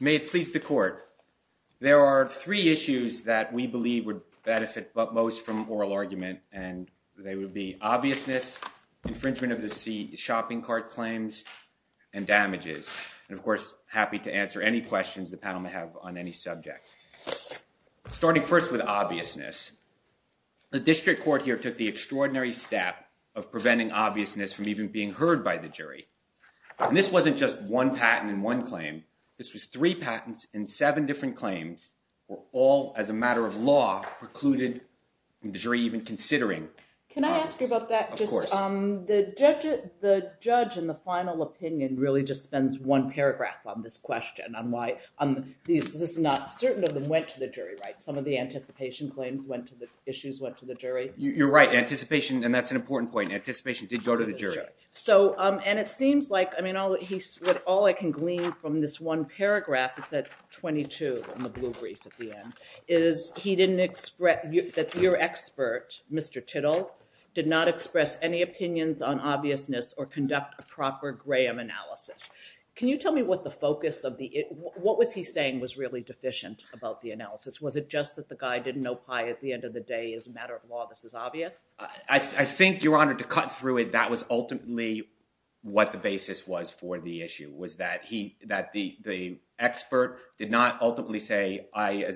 May it please the court. There are three issues that we believe would benefit but most from oral argument, and they would be obviousness, infringement of the seat, shopping cart claims, and damages. And of course, happy to answer any questions the panel may have on any subject. Starting first with obviousness. The district court here took the extraordinary step of preventing obviousness from even being heard by the jury. This wasn't just one patent in one claim. This was three patents in seven different claims. All as a matter of law precluded the jury even considering. Can I ask you about that? The judge in the final opinion really just spends one paragraph on this question on why this is not certain of them went to the jury, right? Some of the anticipation claims went to the issues went to the jury. You're right anticipation. And that's an important point. Anticipation did go to the jury. So, and it seems like, I mean, all I can glean from this one paragraph, it's at 22 in the blue brief at the end, is he didn't express that your expert, Mr. Tittle, did not express any opinions on obviousness or conduct a proper Graham analysis. Can you tell me what the focus of the what was he saying was really deficient about the analysis? Was it just that the guy didn't know pie at the end of the day? As a matter of law, this is obvious. I think you're honored to cut through it. That was ultimately what the basis was for the issue was that he that the the expert did not ultimately say, I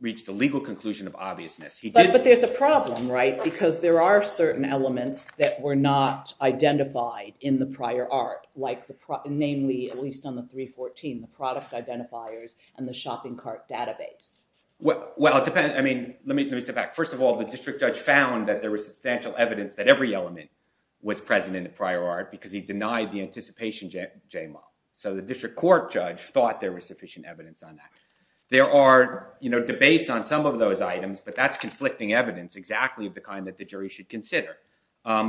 reached a legal conclusion of obviousness. But there's a problem, right? Because there are certain elements that were not identified in the prior art, namely, at least on the 314, the product identifiers and the shopping cart database. Well, it depends. I mean, let me let me step back. First of all, the district judge found that there was substantial evidence that every element was present in the prior art because he denied the anticipation. So the district court judge thought there was sufficient evidence on that. There are debates on some of those items, but that's conflicting evidence exactly the kind that the jury should consider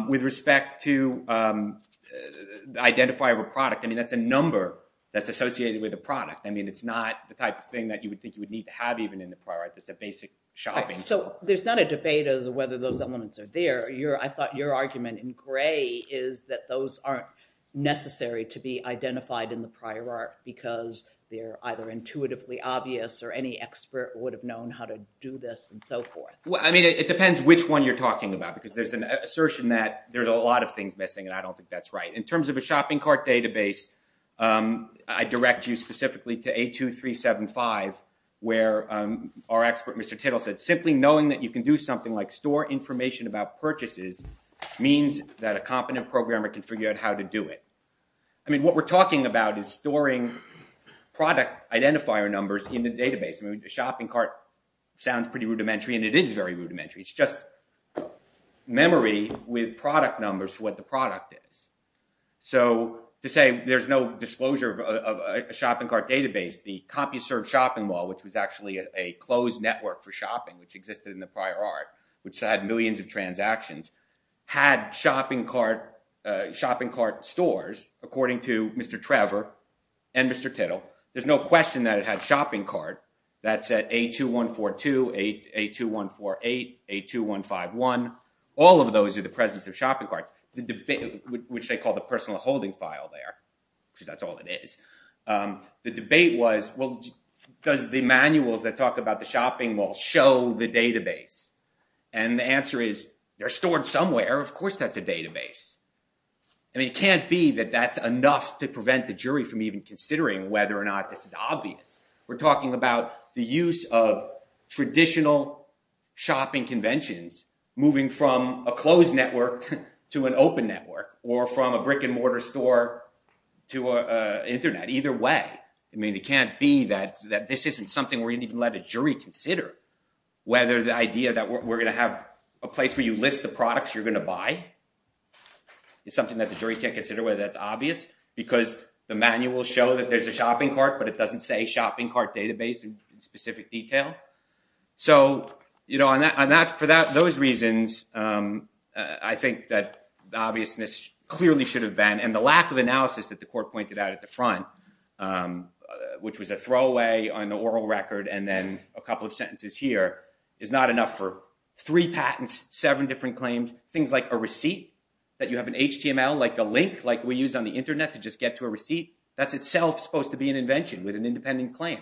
with respect to identify a product. I mean, that's a number that's associated with a product. I mean, it's not the type of thing that you would think you would need to have even in the prior. It's a basic shopping. So there's not a debate as to whether those elements are there. You're I thought your argument in gray is that those aren't necessary to be identified in the prior art because they're either intuitively obvious or any expert would have known how to do this and so forth. Well, I mean, it depends which one you're talking about, because there's an assertion that there's a lot of things missing, and I don't think that's right in terms of a shopping cart database. I direct you specifically to 82375, where our expert, Mr. Tittle, said simply knowing that you can do something like store information about purchases means that a competent programmer can figure out how to do it. I mean, what we're talking about is storing product identifier numbers in the database. I mean, the shopping cart sounds pretty rudimentary, and it is very rudimentary. It's just memory with product numbers for what the product is. So to say there's no disclosure of a shopping cart database, the CompuServe shopping mall, which was actually a closed network for shopping, which existed in the prior art, which had millions of transactions, had shopping cart stores, according to Mr. Trevor and Mr. Tittle. There's no question that it had shopping cart. That's at 82142, 82148, 82151. All of those are the presence of shopping carts, which they call the personal holding file there, because that's all it is. The debate was, well, does the manuals that talk about the shopping mall show the database? And the answer is they're stored somewhere. Of course that's a database. I mean, it can't be that that's enough to prevent the jury from even considering whether or not this is obvious. We're talking about the use of traditional shopping conventions moving from a closed network to an open network or from a brick-and-mortar store to Internet, either way. I mean, it can't be that this isn't something where you can let a jury consider whether the idea that we're going to have a place where you list the products you're going to buy is something that the jury can't consider whether that's obvious, because the manuals show that there's a shopping cart, but it doesn't say shopping cart database in specific detail. So for those reasons, I think that the obviousness clearly should have been, and the lack of analysis that the court pointed out at the front, which was a throwaway on the oral record and then a couple of sentences here, is not enough for three patents, seven different claims, things like a receipt that you have in HTML, like a link like we use on the Internet to just get to a receipt. That's itself supposed to be an invention with an independent claim.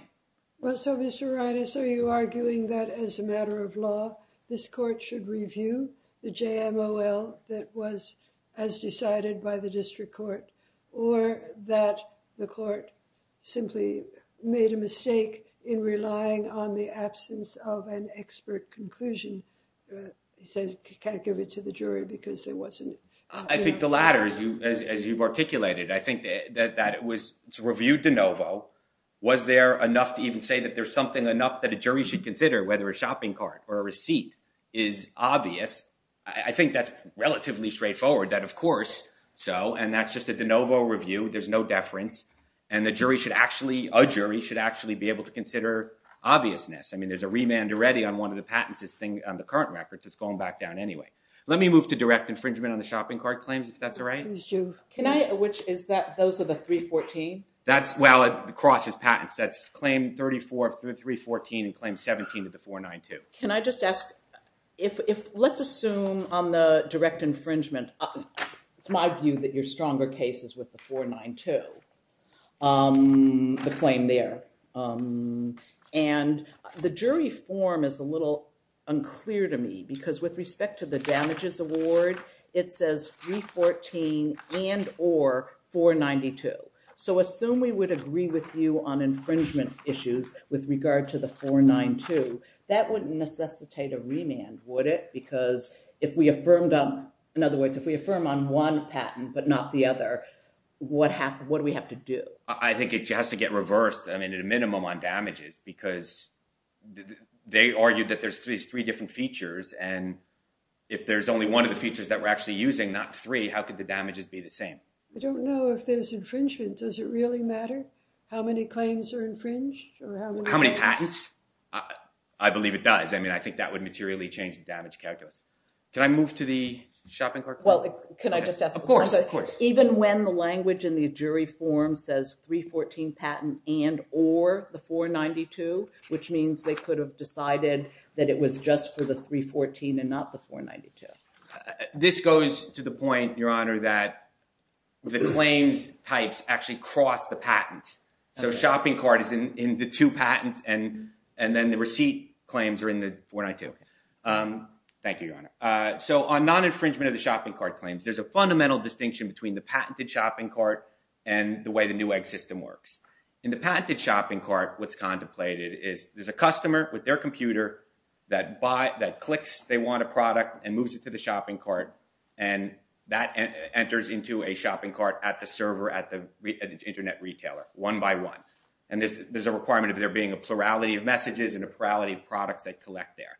Well, so Mr. Reines, are you arguing that as a matter of law, this court should review the JMOL that was as decided by the district court, or that the court simply made a mistake in relying on the absence of an expert conclusion? You said you can't give it to the jury because there wasn't... I think the latter, as you've articulated, I think that it was reviewed de novo. Was there enough to even say that there's something enough that a jury should consider whether a shopping cart or a receipt is obvious? I think that's relatively straightforward that, of course, so, and that's just a de novo review. There's no deference. And the jury should actually, a jury should actually be able to consider obviousness. I mean, there's a remand already on one of the patents on the current records. It's going back down anyway. Let me move to direct infringement on the shopping cart claims, if that's all right. Can I, which is that, those are the 314? That's, well, it crosses patents. That's claim 34 of 314 and claim 17 of the 492. Can I just ask, if, let's assume on the direct infringement, it's my view that your stronger case is with the 492, the claim there. And the jury form is a little unclear to me because with respect to the damages award, it says 314 and or 492. So, assume we would agree with you on infringement issues with regard to the 492, that wouldn't necessitate a remand, would it? Because if we affirmed, in other words, if we affirm on one patent, but not the other, what do we have to do? I think it has to get reversed, I mean, at a minimum on damages because they argued that there's these three different features. And if there's only one of the features that we're actually using, not three, how could the damages be the same? I don't know if there's infringement. Does it really matter how many claims are infringed? How many patents? I believe it does. I mean, I think that would materially change the damage calculus. Can I move to the shopping cart? Of course. Even when the language in the jury form says 314 patent and or the 492, which means they could have decided that it was just for the 314 and not the 492? This goes to the point, Your Honor, that the claims types actually cross the patent. So, shopping cart is in the two patents and then the receipt claims are in the 492. Thank you, Your Honor. So, on non-infringement of the shopping cart claims, there's a fundamental distinction between the patented shopping cart and the way the new egg system works. In the patented shopping cart, what's contemplated is there's a customer with their computer that clicks they want a product and moves it to the shopping cart. And that enters into a shopping cart at the server at the Internet retailer, one by one. And there's a requirement of there being a plurality of messages and a plurality of products they collect there.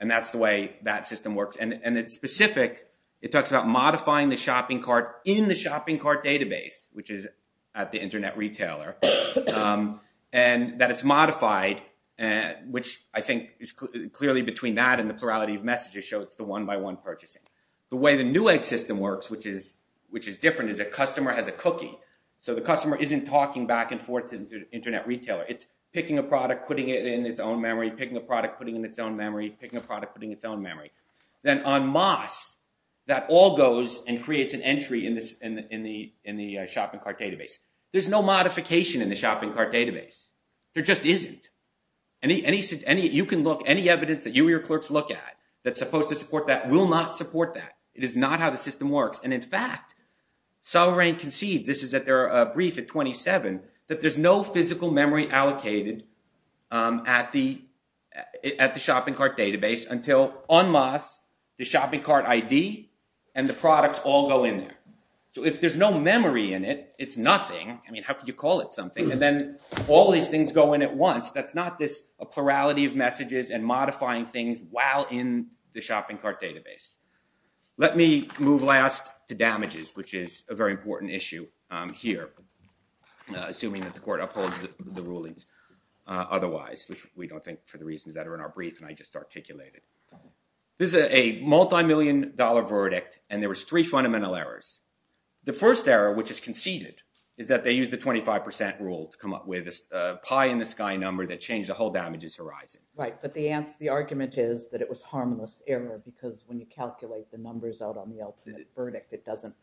And that's the way that system works. And it's specific. It talks about modifying the shopping cart in the shopping cart database, which is at the Internet retailer. And that it's modified, which I think is clearly between that and the plurality of messages show it's the one-by-one purchasing. The way the new egg system works, which is different, is a customer has a cookie. So, the customer isn't talking back and forth to the Internet retailer. It's picking a product, putting it in its own memory, picking a product, putting it in its own memory, picking a product, putting it in its own memory. Then en masse, that all goes and creates an entry in the shopping cart database. There's no modification in the shopping cart database. There just isn't. Any evidence that you or your clerks look at that's supposed to support that will not support that. It is not how the system works. And in fact, Solorane concedes, this is at their brief at 27, that there's no physical memory allocated at the shopping cart database until en masse, the shopping cart ID and the products all go in there. So, if there's no memory in it, it's nothing. I mean, how could you call it something? And then all these things go in at once. That's not this plurality of messages and modifying things while in the shopping cart database. Let me move last to damages, which is a very important issue here, assuming that the court upholds the rulings otherwise, which we don't think for the reasons that are in our brief and I just articulated. This is a multi-million dollar verdict, and there was three fundamental errors. The first error, which is conceded, is that they used the 25% rule to come up with a pie-in-the-sky number that changed the whole damages horizon. Right, but the argument is that it was harmless error because when you calculate the numbers out on the ultimate verdict, it doesn't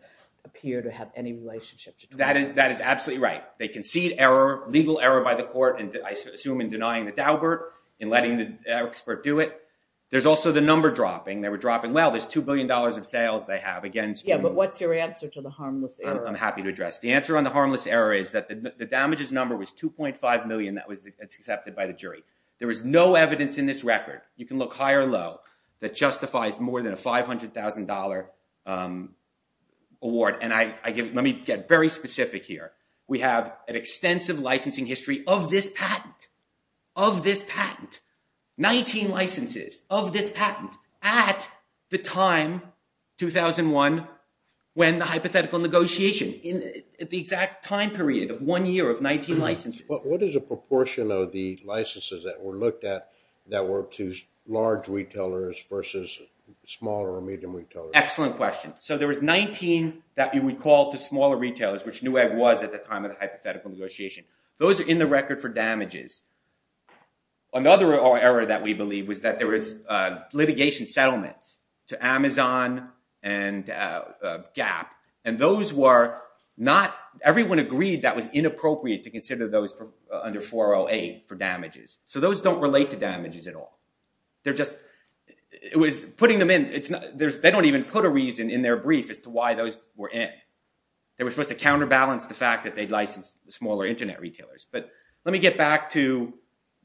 appear to have any relationship. That is absolutely right. They concede error, legal error by the court, and I assume in denying the Daubert, in letting the expert do it. There's also the number dropping. They were dropping well. There's $2 billion of sales they have. Yeah, but what's your answer to the harmless error? I'm happy to address. The answer on the harmless error is that the damages number was 2.5 million that was accepted by the jury. There is no evidence in this record, you can look high or low, that justifies more than a $500,000 award. Let me get very specific here. We have an extensive licensing history of this patent, of this patent. 19 licenses of this patent at the time, 2001, when the hypothetical negotiation, at the exact time period of one year of 19 licenses. What is the proportion of the licenses that were looked at that were to large retailers versus smaller or medium retailers? Excellent question. So there was 19 that you would call to smaller retailers, which Newegg was at the time of the hypothetical negotiation. Those are in the record for damages. Another error that we believe was that there was litigation settlement to Amazon and Gap, and everyone agreed that was inappropriate to consider those under 408 for damages. So those don't relate to damages at all. They don't even put a reason in their brief as to why those were in. They were supposed to counterbalance the fact that they'd licensed smaller internet retailers. But let me get back to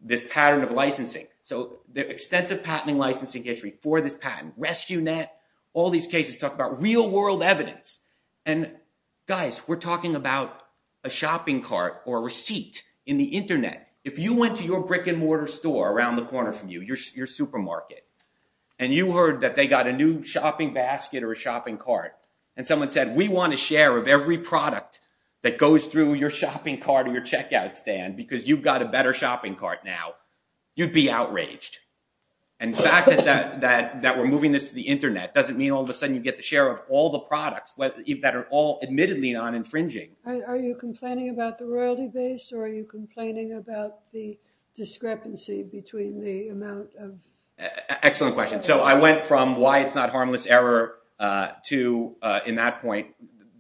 this pattern of licensing. So the extensive patenting licensing history for this patent, RescueNet, all these cases talk about real-world evidence. And guys, we're talking about a shopping cart or a receipt in the internet. If you went to your brick-and-mortar store around the corner from you, your supermarket, and you heard that they got a new shopping basket or a shopping cart, and someone said, we want a share of every product that goes through your shopping cart or your checkout stand because you've got a better shopping cart now, you'd be outraged. And the fact that we're moving this to the internet doesn't mean all of a sudden you get the share of all the products that are all admittedly non-infringing. Are you complaining about the royalty base or are you complaining about the discrepancy between the amount of? Excellent question. So I went from why it's not harmless error to, in that point,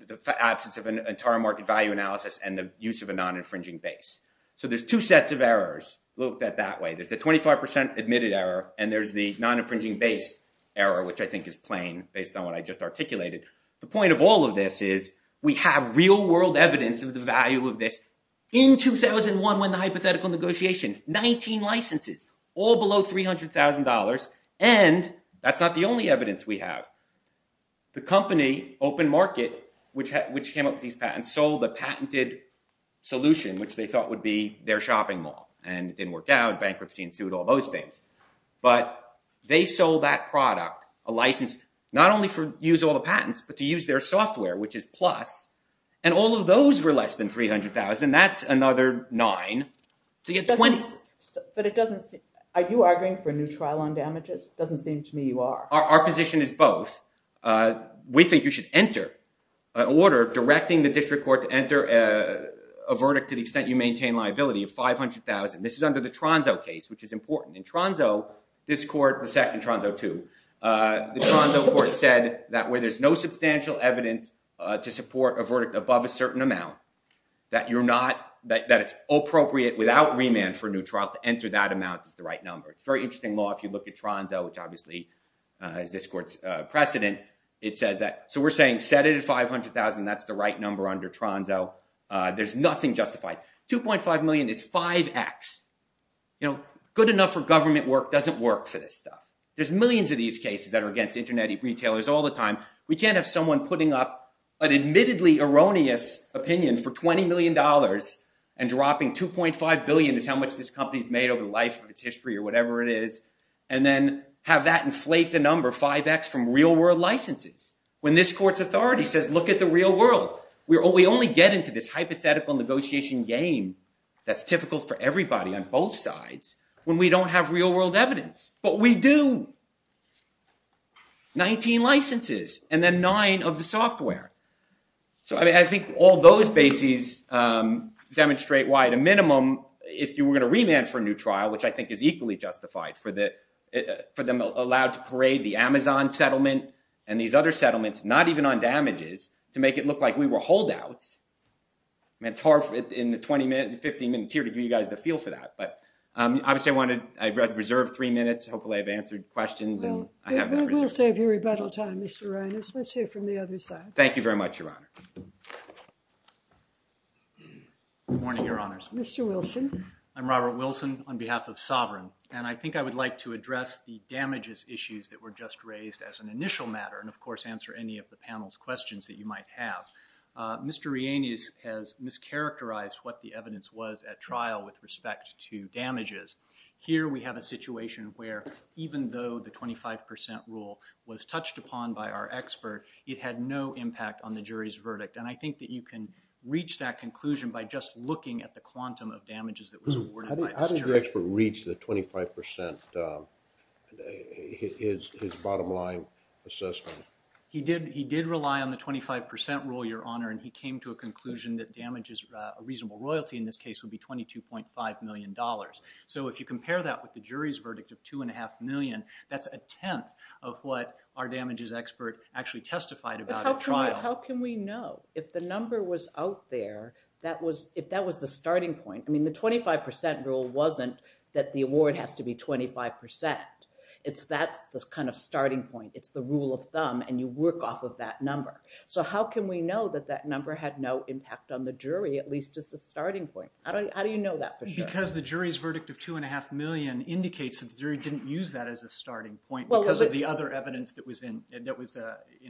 the absence of an entire market value analysis and the use of a non-infringing base. So there's two sets of errors looked at that way. There's a 25% admitted error, and there's the non-infringing base error, which I think is plain based on what I just articulated. The point of all of this is we have real-world evidence of the value of this. In 2001, when the hypothetical negotiation, 19 licenses, all below $300,000. And that's not the only evidence we have. The company, Open Market, which came up with these patents, and sold the patented solution, which they thought would be their shopping mall. And it didn't work out. Bankruptcy ensued, all those things. But they sold that product, a license, not only to use all the patents, but to use their software, which is Plus. And all of those were less than $300,000. That's another nine to get 20. Are you arguing for a new trial on damages? It doesn't seem to me you are. Our position is both. We think you should enter an order directing the district court to enter a verdict to the extent you maintain liability of $500,000. This is under the Tronzo case, which is important. In Tronzo, this court, the second Tronzo too, the Tronzo court said that where there's no substantial evidence to support a verdict above a certain amount, that you're not, that it's appropriate without remand for a new trial to enter that amount is the right number. It's a very interesting law if you look at Tronzo, which obviously is this court's precedent. It says that, so we're saying set it at $500,000. That's the right number under Tronzo. There's nothing justified. $2.5 million is 5x. You know, good enough for government work doesn't work for this stuff. There's millions of these cases that are against internet retailers all the time. We can't have someone putting up an admittedly erroneous opinion for $20 million and dropping $2.5 billion as how much this company's made over the life of its history or whatever it is and then have that inflate the number 5x from real world licenses when this court's authority says look at the real world. We only get into this hypothetical negotiation game that's difficult for everybody on both sides when we don't have real world evidence. But we do. 19 licenses and then 9 of the software. So I think all those bases demonstrate why, at a minimum, if you were going to remand for a new trial, which I think is equally justified for them allowed to parade the Amazon settlement and these other settlements, not even on damages, to make it look like we were holdouts. I mean, it's hard in the 20 minutes, 15 minutes here to give you guys the feel for that. But obviously I want to reserve three minutes. Hopefully I've answered questions. We'll save you rebuttal time, Mr. Rehanes. Let's hear from the other side. Thank you very much, Your Honor. Good morning, Your Honors. Mr. Wilson. I'm Robert Wilson on behalf of Sovereign. And I think I would like to address the damages issues that were just raised as an initial matter and, of course, answer any of the panel's questions that you might have. Mr. Rehanes has mischaracterized what the evidence was at trial with respect to damages. Here we have a situation where even though the 25 percent rule was touched upon by our expert, it had no impact on the jury's verdict. And I think that you can reach that conclusion by just looking at the quantum of damages that was awarded by this jury. How did the expert reach the 25 percent, his bottom line assessment? He did rely on the 25 percent rule, Your Honor, and he came to a conclusion that damages, a reasonable royalty in this case, would be $22.5 million. So if you compare that with the jury's verdict of $2.5 million, that's a tenth of what our damages expert actually testified about at trial. But how can we know if the number was out there, if that was the starting point? I mean, the 25 percent rule wasn't that the award has to be 25 percent. That's the kind of starting point. It's the rule of thumb, and you work off of that number. So how can we know that that number had no impact on the jury, at least as a starting point? How do you know that for sure? Because the jury's verdict of $2.5 million indicates that the jury didn't use that as a starting point because of the other evidence that was in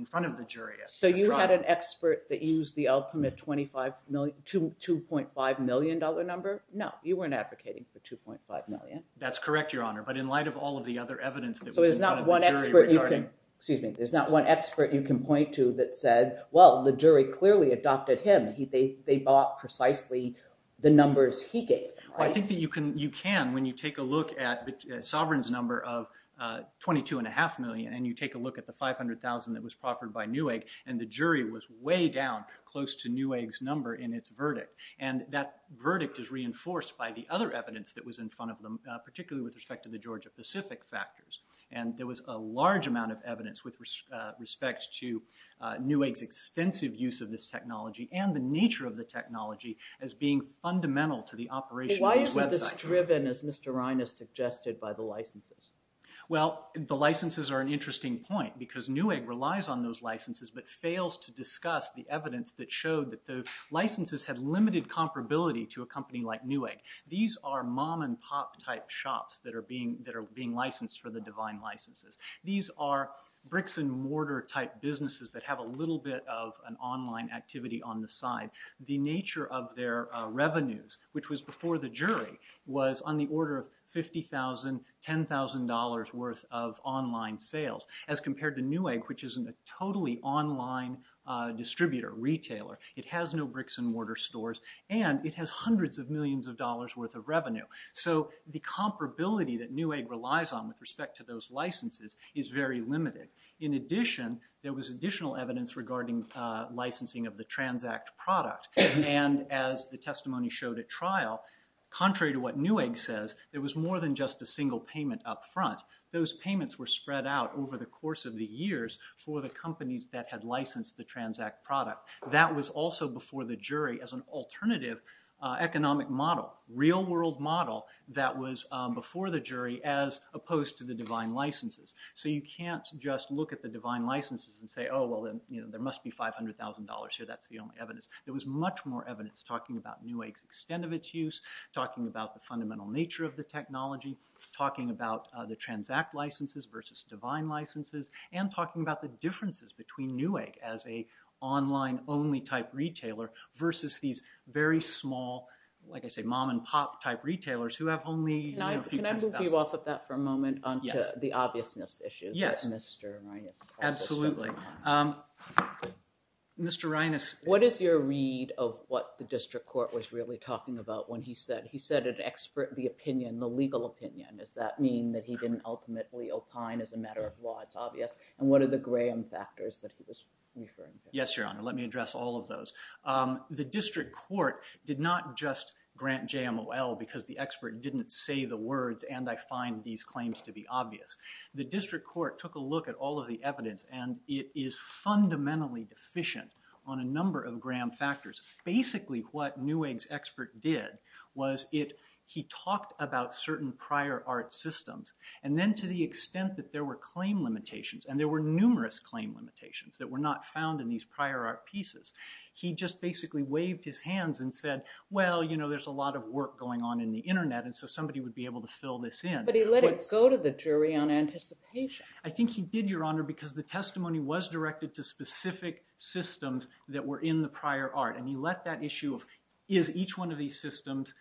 front of the jury at the trial. So you had an expert that used the ultimate $2.5 million number? No, you weren't advocating for $2.5 million. That's correct, Your Honor, but in light of all of the other evidence that was in front of the jury regarding— So there's not one expert you can point to that said, well, the jury clearly adopted him. They bought precisely the numbers he gave them, right? Well, I think that you can when you take a look at Sovereign's number of $22.5 million and you take a look at the $500,000 that was proffered by Newegg, and the jury was way down close to Newegg's number in its verdict. And that verdict is reinforced by the other evidence that was in front of them, particularly with respect to the Georgia-Pacific factors. And there was a large amount of evidence with respect to Newegg's extensive use of this technology and the nature of the technology as being fundamental to the operation of the website. Why isn't this driven, as Mr. Reines suggested, by the licenses? Well, the licenses are an interesting point because Newegg relies on those licenses but fails to discuss the evidence that showed that the licenses had limited comparability to a company like Newegg. These are mom-and-pop type shops that are being licensed for the divine licenses. These are bricks-and-mortar type businesses that have a little bit of an online activity on the side. The nature of their revenues, which was before the jury, was on the order of $50,000, $10,000 worth of online sales, as compared to Newegg, which is a totally online distributor, retailer. It has no bricks-and-mortar stores, and it has hundreds of millions of dollars worth of revenue. So the comparability that Newegg relies on with respect to those licenses is very limited. In addition, there was additional evidence regarding licensing of the Transact product. And as the testimony showed at trial, contrary to what Newegg says, there was more than just a single payment up front. Those payments were spread out over the course of the years for the companies that had licensed the Transact product. That was also before the jury as an alternative economic model, real-world model, that was before the jury as opposed to the divine licenses. So you can't just look at the divine licenses and say, oh, well, there must be $500,000 here, that's the only evidence. There was much more evidence talking about Newegg's extent of its use, talking about the fundamental nature of the technology, talking about the Transact licenses versus divine licenses, and talking about the differences between Newegg as a online-only type retailer versus these very small, like I say, mom-and-pop type retailers who have only a few tens of thousands. Can I move you off of that for a moment onto the obviousness issues that Mr. Rinas talked about? Absolutely. Mr. Rinas. What is your read of what the district court was really talking about when he said, he said an expert, the opinion, the legal opinion. Does that mean that he didn't ultimately opine as a matter of law? It's obvious. And what are the Graham factors that he was referring to? Yes, Your Honor. Let me address all of those. The district court did not just grant JMOL because the expert didn't say the words, and I find these claims to be obvious. The district court took a look at all of the evidence, and it is fundamentally deficient on a number of Graham factors. Basically, what Newegg's expert did was he talked about certain prior art systems, and then to the extent that there were claim limitations, and there were numerous claim limitations that were not found in these prior art pieces, he just basically waved his hands and said, well, you know, there's a lot of work going on in the Internet, and so somebody would be able to fill this in. But he let it go to the jury on anticipation. I think he did, Your Honor, because the testimony was directed to specific systems that were in the prior art, and he let that issue of is each one of these systems,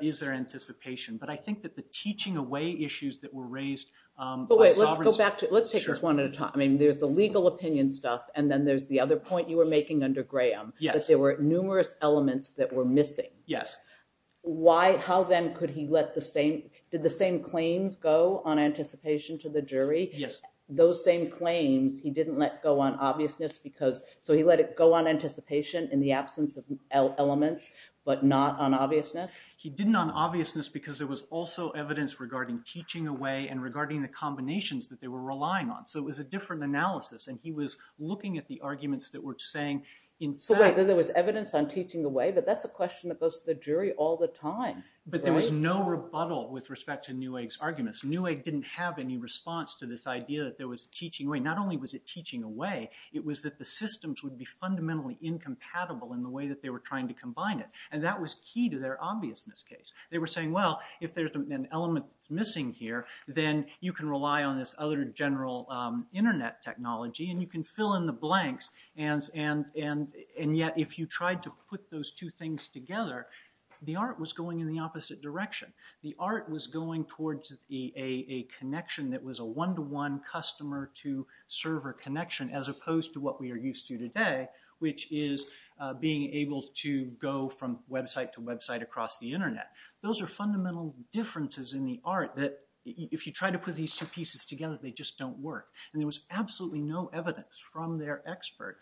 is there anticipation? But I think that the teaching away issues that were raised by sovereignty. But wait, let's go back to it. Let's take this one at a time. I mean, there's the legal opinion stuff, and then there's the other point you were making under Graham. Yes. That there were numerous elements that were missing. Yes. How then could he let the same – did the same claims go on anticipation to the jury? Yes. Those same claims he didn't let go on obviousness because – So he let it go on anticipation in the absence of elements but not on obviousness? He didn't on obviousness because there was also evidence regarding teaching away and regarding the combinations that they were relying on. So it was a different analysis, and he was looking at the arguments that were saying in fact – So there was evidence on teaching away, but that's a question that goes to the jury all the time, right? But there was no rebuttal with respect to Newegg's arguments. Newegg didn't have any response to this idea that there was teaching away. Not only was it teaching away, it was that the systems would be fundamentally incompatible in the way that they were trying to combine it, and that was key to their obviousness case. They were saying, well, if there's an element that's missing here, then you can rely on this other general Internet technology, and you can fill in the blanks, and yet if you tried to put those two things together, the art was going in the opposite direction. The art was going towards a connection that was a one-to-one customer-to-server connection as opposed to what we are used to today, which is being able to go from website to website across the Internet. Those are fundamental differences in the art that if you try to put these two pieces together, they just don't work, and there was absolutely no evidence from their expert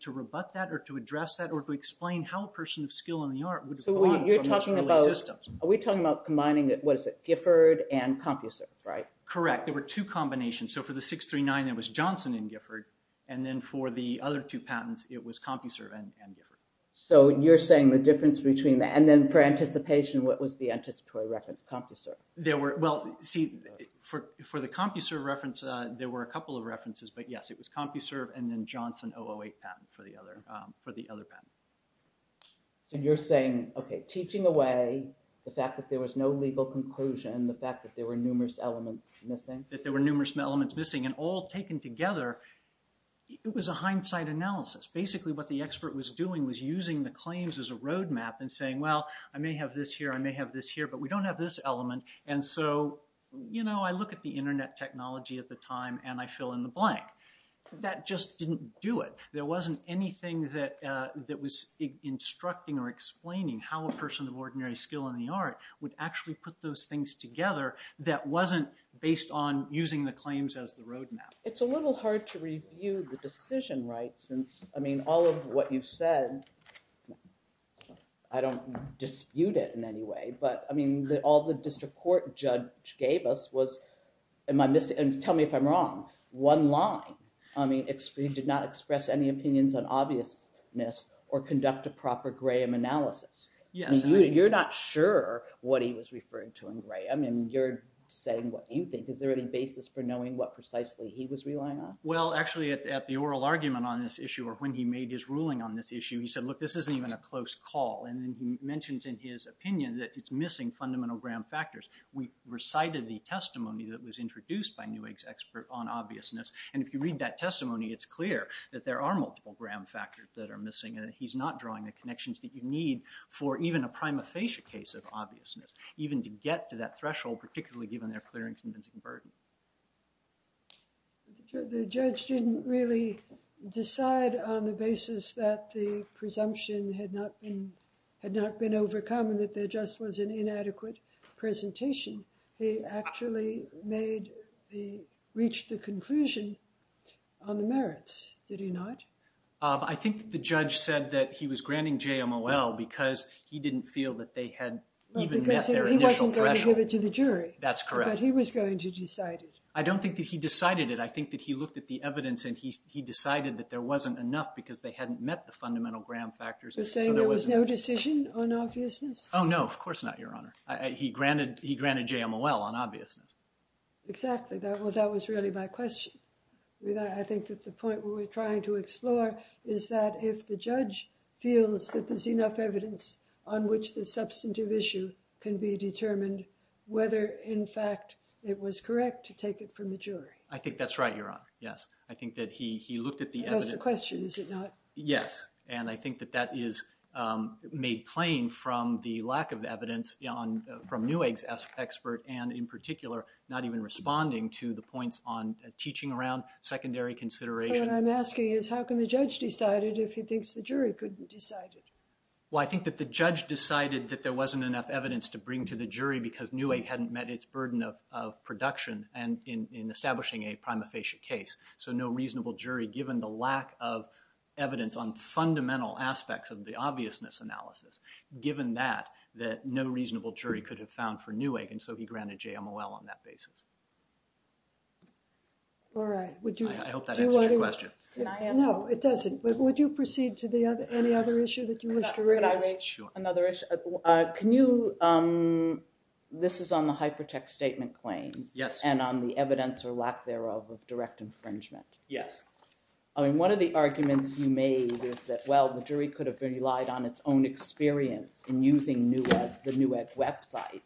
to rebut that or to address that or to explain how a person of skill in the art would have gone from those systems. Are we talking about combining, what is it, Gifford and CompuServe, right? Correct. There were two combinations. So for the 639, it was Johnson and Gifford, and then for the other two patents, it was CompuServe and Gifford. So you're saying the difference between that. And then for anticipation, what was the anticipatory reference, CompuServe? Well, see, for the CompuServe reference, there were a couple of references, but yes, it was CompuServe and then Johnson 008 patent for the other patent. So you're saying, okay, teaching away the fact that there was no legal conclusion, the fact that there were numerous elements missing? That there were numerous elements missing, and all taken together, it was a hindsight analysis. Basically, what the expert was doing was using the claims as a roadmap and saying, well, I may have this here, I may have this here, but we don't have this element. And so, you know, I look at the Internet technology at the time, and I fill in the blank. That just didn't do it. There wasn't anything that was instructing or explaining how a person of ordinary skill in the art would actually put those things together that wasn't based on using the claims as the roadmap. It's a little hard to review the decision, right? Since, I mean, all of what you've said, I don't dispute it in any way, but, I mean, all the district court judge gave us was, and tell me if I'm wrong, one line. I mean, he did not express any opinions on obviousness or conduct a proper Graham analysis. You're not sure what he was referring to in Graham, and you're saying what you think. Is there any basis for knowing what precisely he was relying on? Well, actually, at the oral argument on this issue or when he made his ruling on this issue, he said, look, this isn't even a close call. And then he mentions in his opinion that it's missing fundamental Graham factors. We recited the testimony that was introduced by Newegg's expert on obviousness, and if you read that testimony, it's clear that there are multiple Graham factors that are missing, and he's not drawing the connections that you need for even a prima facie case of obviousness, even to get to that threshold, particularly given their clear and convincing burden. The judge didn't really decide on the basis that the presumption had not been overcome and that there just was an inadequate presentation. He actually reached the conclusion on the merits, did he not? I think the judge said that he was granting JMOL because he didn't feel that they had even met their initial threshold. Because he wasn't going to give it to the jury. That's correct. But he was going to decide it. I don't think that he decided it. I think that he looked at the evidence and he decided that there wasn't enough because they hadn't met the fundamental Graham factors. You're saying there was no decision on obviousness? Oh, no, of course not, Your Honor. He granted JMOL on obviousness. Exactly. Well, that was really my question. I think that the point we were trying to explore is that if the judge feels that there's enough evidence on which the substantive issue can be determined, whether, in fact, it was correct to take it from the jury. I think that's right, Your Honor. Yes. I think that he looked at the evidence. That's the question, is it not? Yes. And I think that that is made plain from the lack of evidence from Newegg's expert and, in particular, not even responding to the points on teaching around secondary considerations. What I'm asking is how can the judge decide it if he thinks the jury could decide it? Well, I think that the judge decided that there wasn't enough evidence to bring to the jury because Newegg hadn't met its burden of production in establishing a prima facie case. So no reasonable jury, given the lack of evidence on fundamental aspects of the obviousness analysis, given that, that no reasonable jury could have found for Newegg, and so he granted JMOL on that basis. All right. I hope that answers your question. No, it doesn't. Would you proceed to any other issue that you wish to raise? Could I raise another issue? Sure. Can you—this is on the hypertext statement claims. Yes. And on the evidence or lack thereof of direct infringement. Yes. I mean, one of the arguments you made is that, well, the jury could have relied on its own experience in using Newegg, the Newegg website,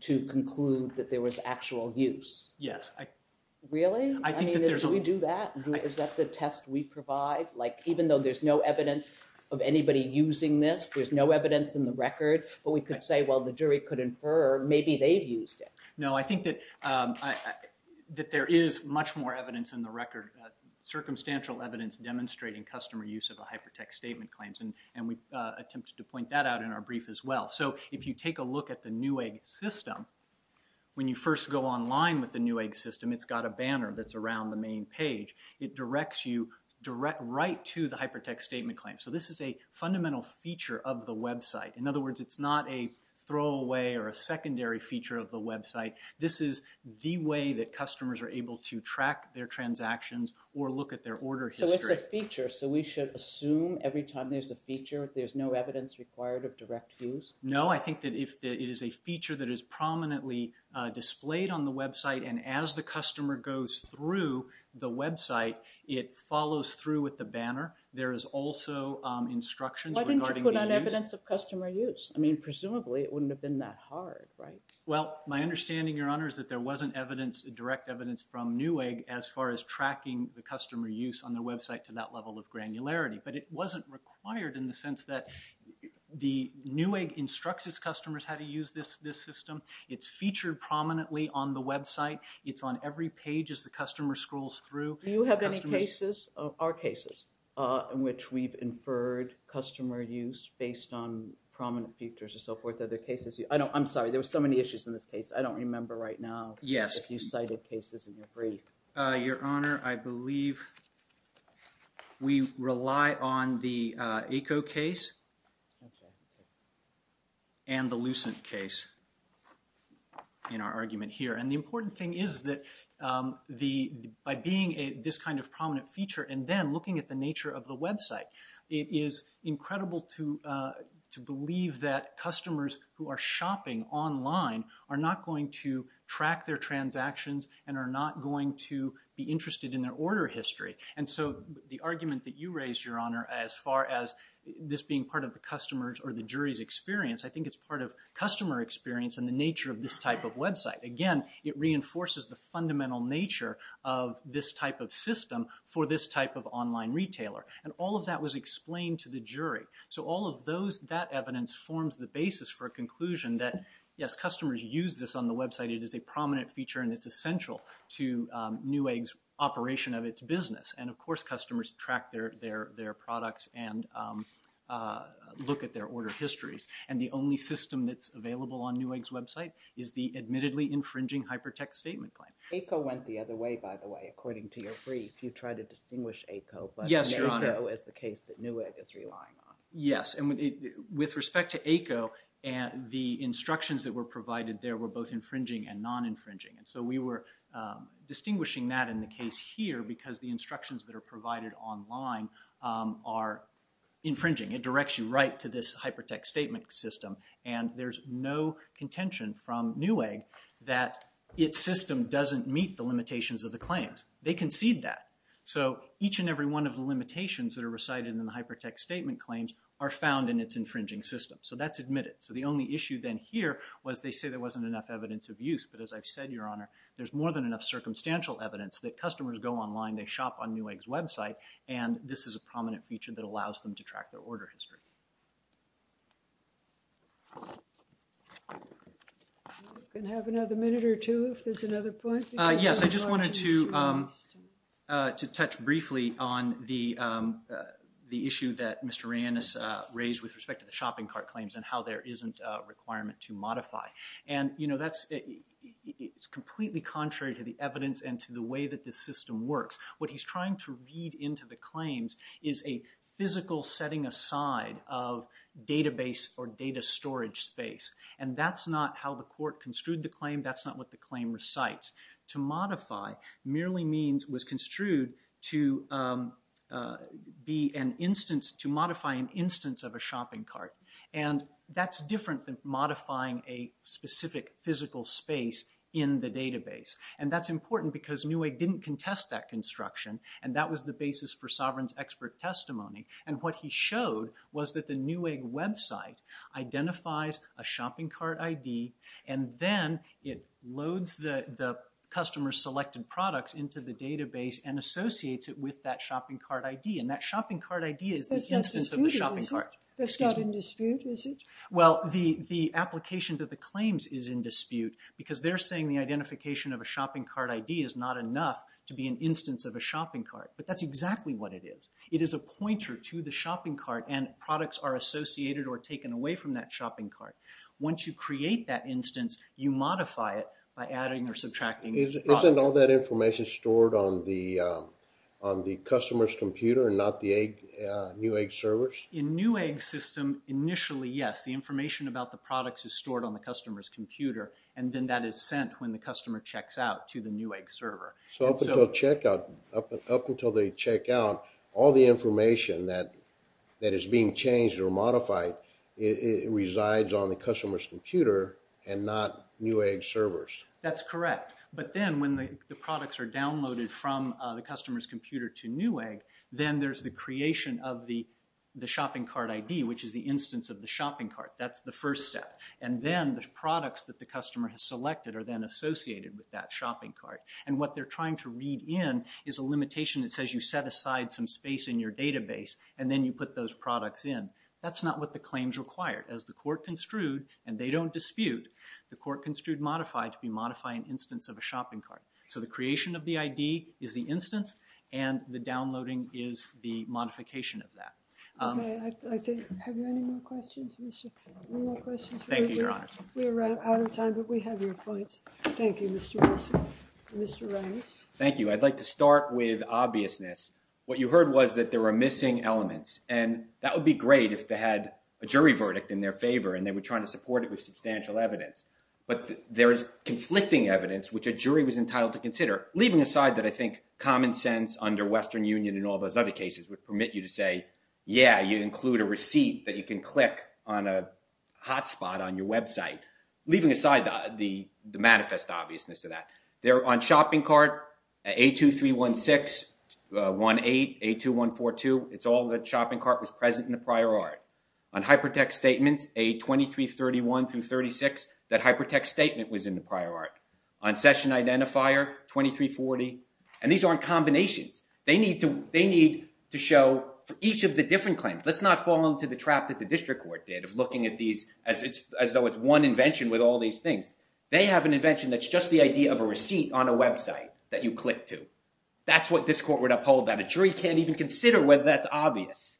to conclude that there was actual use. Yes. Really? I think that there's— I mean, did we do that? Is that the test we provide? Like, even though there's no evidence of anybody using this, there's no evidence in the record, but we could say, well, the jury could infer maybe they've used it. No, I think that there is much more evidence in the record, circumstantial evidence demonstrating customer use of the hypertext statement claims, and we attempted to point that out in our brief as well. So if you take a look at the Newegg system, when you first go online with the Newegg system, it's got a banner that's around the main page. It directs you right to the hypertext statement claim. So this is a fundamental feature of the website. In other words, it's not a throwaway or a secondary feature of the website. This is the way that customers are able to track their transactions or look at their order history. So it's a feature, so we should assume every time there's a feature, there's no evidence required of direct use? No, I think that it is a feature that is prominently displayed on the website, and as the customer goes through the website, it follows through with the banner. There is also instructions regarding the use. Why didn't you put on evidence of customer use? I mean, presumably it wouldn't have been that hard, right? Well, my understanding, Your Honor, is that there wasn't direct evidence from Newegg as far as tracking the customer use on the website to that level of granularity, but it wasn't required in the sense that the Newegg instructs its customers how to use this system. It's featured prominently on the website. It's on every page as the customer scrolls through. Do you have any cases, or cases, in which we've inferred customer use based on prominent features and so forth? Are there cases? I'm sorry, there were so many issues in this case. I don't remember right now if you cited cases in your brief. Your Honor, I believe we rely on the ECO case and the Lucent case in our argument here. And the important thing is that by being this kind of prominent feature and then looking at the nature of the website, it is incredible to believe that customers who are shopping online are not going to track their transactions and are not going to be interested in their order history. And so the argument that you raised, Your Honor, as far as this being part of the customer's or the jury's experience, I think it's part of customer experience and the nature of this type of website. Again, it reinforces the fundamental nature of this type of system for this type of online retailer. And all of that was explained to the jury. So all of that evidence forms the basis for a conclusion that, yes, customers use this on the website. It is a prominent feature and it's essential to Newegg's operation of its business. And, of course, customers track their products and look at their order histories. And the only system that's available on Newegg's website is the admittedly infringing hypertext statement claim. ECO went the other way, by the way, according to your brief. You tried to distinguish ECO, but ECO is the case that Newegg is relying on. Yes, and with respect to ECO, the instructions that were provided there were both infringing and non-infringing. And so we were distinguishing that in the case here because the instructions that are provided online are infringing. It directs you right to this hypertext statement system. And there's no contention from Newegg that its system doesn't meet the limitations of the claims. They concede that. So each and every one of the limitations that are recited in the hypertext statement claims are found in its infringing system. So that's admitted. So the only issue then here was they say there wasn't enough evidence of use. But as I've said, Your Honor, there's more than enough circumstantial evidence that customers go online, they shop on Newegg's website, and this is a prominent feature that allows them to track their order history. Can I have another minute or two if there's another point? Yes, I just wanted to touch briefly on the issue that Mr. Ranis raised with respect to the shopping cart claims and how there isn't a requirement to modify. And, you know, that's completely contrary to the evidence and to the way that this system works. What he's trying to read into the claims is a physical setting aside of database or data storage space. And that's not how the court construed the claim. That's not what the claim recites. To modify merely means was construed to be an instance, to modify an instance of a shopping cart. And that's different than modifying a specific physical space in the database. And that's important because Newegg didn't contest that construction, and that was the basis for Sovereign's expert testimony. And what he showed was that the Newegg website identifies a shopping cart ID, and then it loads the customer-selected products into the database and associates it with that shopping cart ID. And that shopping cart ID is the instance of the shopping cart. That's not disputed, is it? That's not in dispute, is it? Well, the application to the claims is in dispute because they're saying the identification of a shopping cart ID is not enough to be an instance of a shopping cart. But that's exactly what it is. It is a pointer to the shopping cart, and products are associated or taken away from that shopping cart. Once you create that instance, you modify it by adding or subtracting products. Isn't all that information stored on the customer's computer and not the Newegg servers? In Newegg's system, initially, yes. The information about the products is stored on the customer's computer, and then that is sent when the customer checks out to the Newegg server. So up until they check out, all the information that is being changed or modified resides on the customer's computer and not Newegg's servers? That's correct. But then when the products are downloaded from the customer's computer to Newegg, then there's the creation of the shopping cart ID, which is the instance of the shopping cart. That's the first step. And then the products that the customer has selected are then associated with that shopping cart. And what they're trying to read in is a limitation that says you set aside some space in your database and then you put those products in. That's not what the claims require. As the court construed, and they don't dispute, the court construed modify to be modify an instance of a shopping cart. So the creation of the ID is the instance, and the downloading is the modification of that. Okay. Have you any more questions, Mr. Paul? Any more questions? Thank you, Your Honor. We're out of time, but we have your points. Thank you, Mr. Wilson. Mr. Reyes. Thank you. I'd like to start with obviousness. What you heard was that there were missing elements, and that would be great if they had a jury verdict in their favor and they were trying to support it with substantial evidence. But there is conflicting evidence, which a jury was entitled to consider, leaving aside that I think common sense under Western Union and all those other cases would permit you to say, yeah, you include a receipt that you can click on a hot spot on your website. Leaving aside the manifest obviousness of that, on shopping cart, A2316, 18, A2142, it's all that shopping cart was present in the prior art. On hypertext statements, A2331 through 36, that hypertext statement was in the prior art. On session identifier, 2340. And these aren't combinations. They need to show for each of the different claims. Let's not fall into the trap that the district court did of looking at these as though it's one invention with all these things. They have an invention that's just the idea of a receipt on a website that you click to. That's what this court would uphold, that a jury can't even consider whether that's obvious.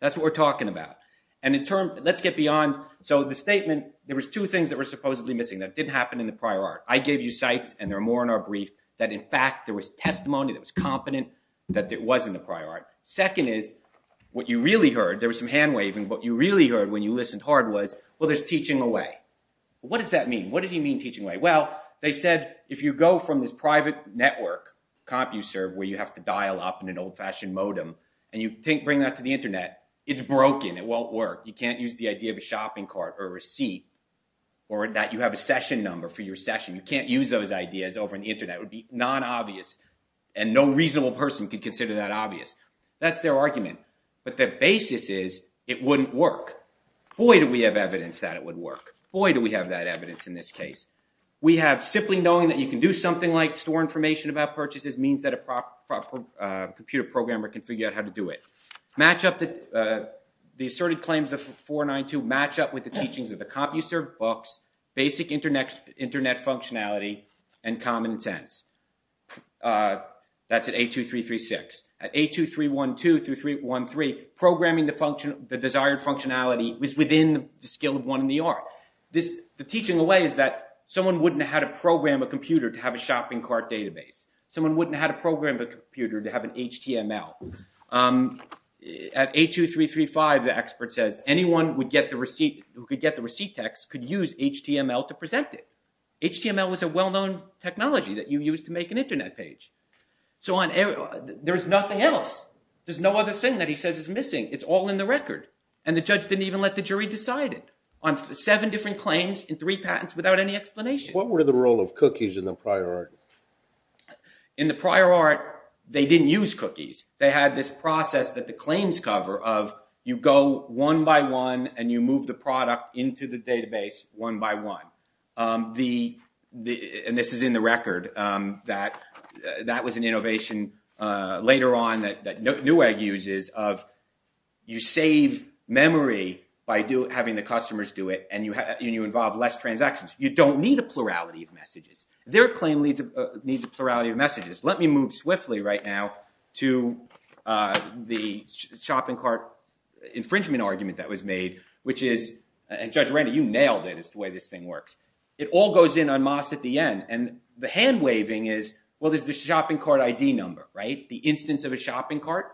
That's what we're talking about. And in turn, let's get beyond. So the statement, there was two things that were supposedly missing that didn't happen in the prior art. I gave you sites, and there are more in our brief, that in fact there was testimony that was confident that it was in the prior art. Second is, what you really heard, there was some hand-waving. What you really heard when you listened hard was, well, there's teaching away. What does that mean? What did he mean, teaching away? Well, they said if you go from this private network, CompuServe, where you have to dial up in an old-fashioned modem, and you bring that to the Internet, it's broken. It won't work. You can't use the idea of a shopping cart or a receipt or that you have a session number for your session. You can't use those ideas over the Internet. That would be non-obvious, and no reasonable person could consider that obvious. That's their argument. But their basis is it wouldn't work. Boy, do we have evidence that it would work. Boy, do we have that evidence in this case. We have simply knowing that you can do something like store information about purchases means that a proper computer programmer can figure out how to do it. The asserted claims of 492 match up with the teachings of the CompuServe books, basic Internet functionality, and common sense. That's at A2336. At A2312 through A2313, programming the desired functionality was within the skill of one in the art. The teaching away is that someone wouldn't know how to program a computer to have a shopping cart database. Someone wouldn't know how to program a computer to have an HTML. At A2335, the expert says anyone who could get the receipt text could use HTML to present it. HTML was a well-known technology that you used to make an Internet page. So there's nothing else. There's no other thing that he says is missing. It's all in the record, and the judge didn't even let the jury decide it on seven different claims and three patents without any explanation. What were the role of cookies in the prior art? In the prior art, they didn't use cookies. They had this process that the claims cover of you go one by one and you move the product into the database one by one. And this is in the record. That was an innovation later on that Newegg uses of you save memory by having the customers do it, and you involve less transactions. You don't need a plurality of messages. Their claim needs a plurality of messages. Let me move swiftly right now to the shopping cart infringement argument that was made, which is—and Judge Randall, you nailed it is the way this thing works. It all goes in en masse at the end, and the hand-waving is, well, there's the shopping cart ID number, right? The instance of a shopping cart.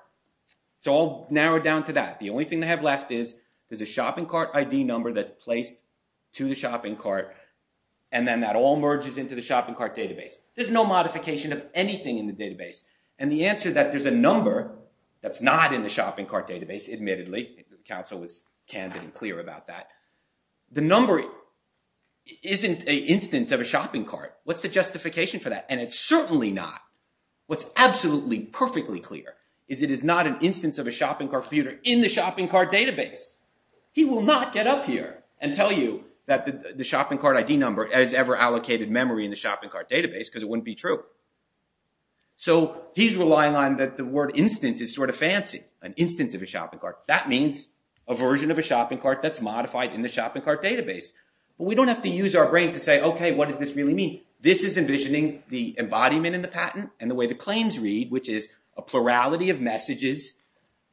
It's all narrowed down to that. The only thing they have left is there's a shopping cart ID number that's placed to the shopping cart, and then that all merges into the shopping cart database. There's no modification of anything in the database. And the answer that there's a number that's not in the shopping cart database—admittedly, the counsel was candid and clear about that—the number isn't an instance of a shopping cart. What's the justification for that? And it's certainly not. What's absolutely, perfectly clear is it is not an instance of a shopping cart in the shopping cart database. He will not get up here and tell you that the shopping cart ID number has ever allocated memory in the shopping cart database because it wouldn't be true. So he's relying on that the word instance is sort of fancy, an instance of a shopping cart. That means a version of a shopping cart that's modified in the shopping cart database. But we don't have to use our brains to say, okay, what does this really mean? This is envisioning the embodiment in the patent and the way the claims read, which is a plurality of messages,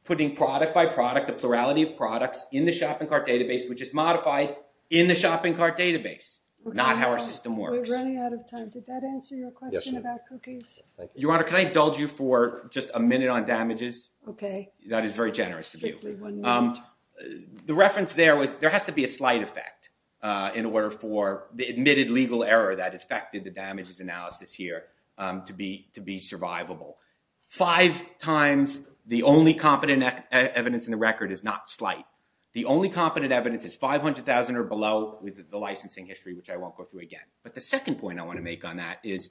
putting product by product, a plurality of products in the shopping cart database, which is modified in the shopping cart database. Not how our system works. We're running out of time. Did that answer your question about cookies? Your Honor, can I indulge you for just a minute on damages? Okay. That is very generous of you. The reference there was there has to be a slight effect in order for the admitted legal error that affected the damages analysis here to be survivable. Five times the only competent evidence in the record is not slight. The only competent evidence is 500,000 or below with the licensing history, which I won't go through again. But the second point I want to make on that is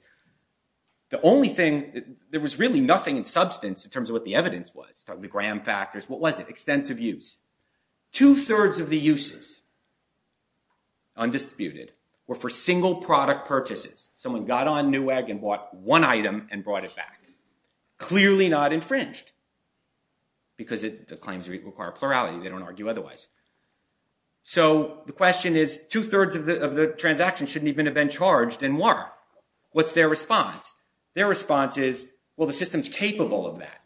the only thing, there was really nothing in substance in terms of what the evidence was. The gram factors. What was it? Extensive use. Two-thirds of the uses, undisputed, were for single product purchases. Someone got on Newegg and bought one item and brought it back. Clearly not infringed because the claims require plurality. They don't argue otherwise. So the question is, two-thirds of the transactions shouldn't even have been charged and why? What's their response? Their response is, well, the system's capable of that.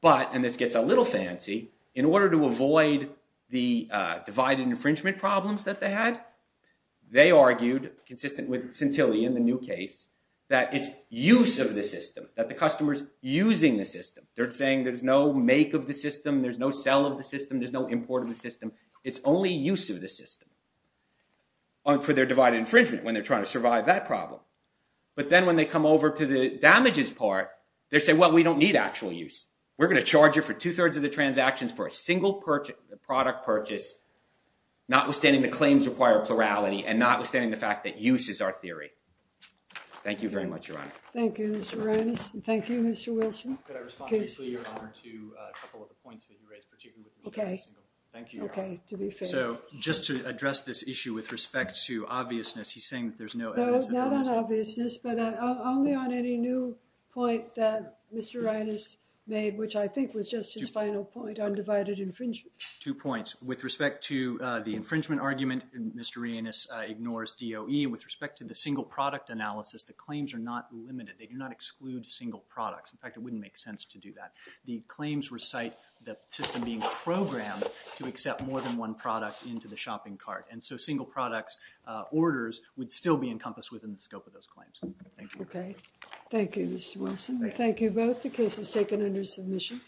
But, and this gets a little fancy, in order to avoid the divided infringement problems that they had, they argued, consistent with Centilli in the new case, that it's use of the system. That the customer's using the system. They're saying there's no make of the system. There's no sell of the system. There's no import of the system. It's only use of the system for their divided infringement when they're trying to survive that problem. But then when they come over to the damages part, they say, well, we don't need actual use. We're going to charge you for two-thirds of the transactions for a single product purchase, notwithstanding the claims require plurality and notwithstanding the fact that use is our theory. Thank you very much, Your Honor. Thank you, Mr. Reines. Thank you, Mr. Wilson. Could I respond briefly, Your Honor, to a couple of the points that you raised, particularly with regard to Centilli? Okay. Thank you, Your Honor. Okay, to be fair. So, just to address this issue with respect to obviousness, he's saying that there's no evidence. No, not on obviousness, but only on any new point that Mr. Reines made, which I think was just his final point on divided infringement. Two points. With respect to the infringement argument, Mr. Reines ignores DOE. With respect to the single product analysis, the claims are not limited. They do not exclude single products. In fact, it wouldn't make sense to do that. The claims recite the system being programmed to accept more than one product into the shopping cart. And so single products orders would still be encompassed within the scope of those claims. Thank you. Okay. Thank you, Mr. Wilson. Thank you both. The case is taken under submission.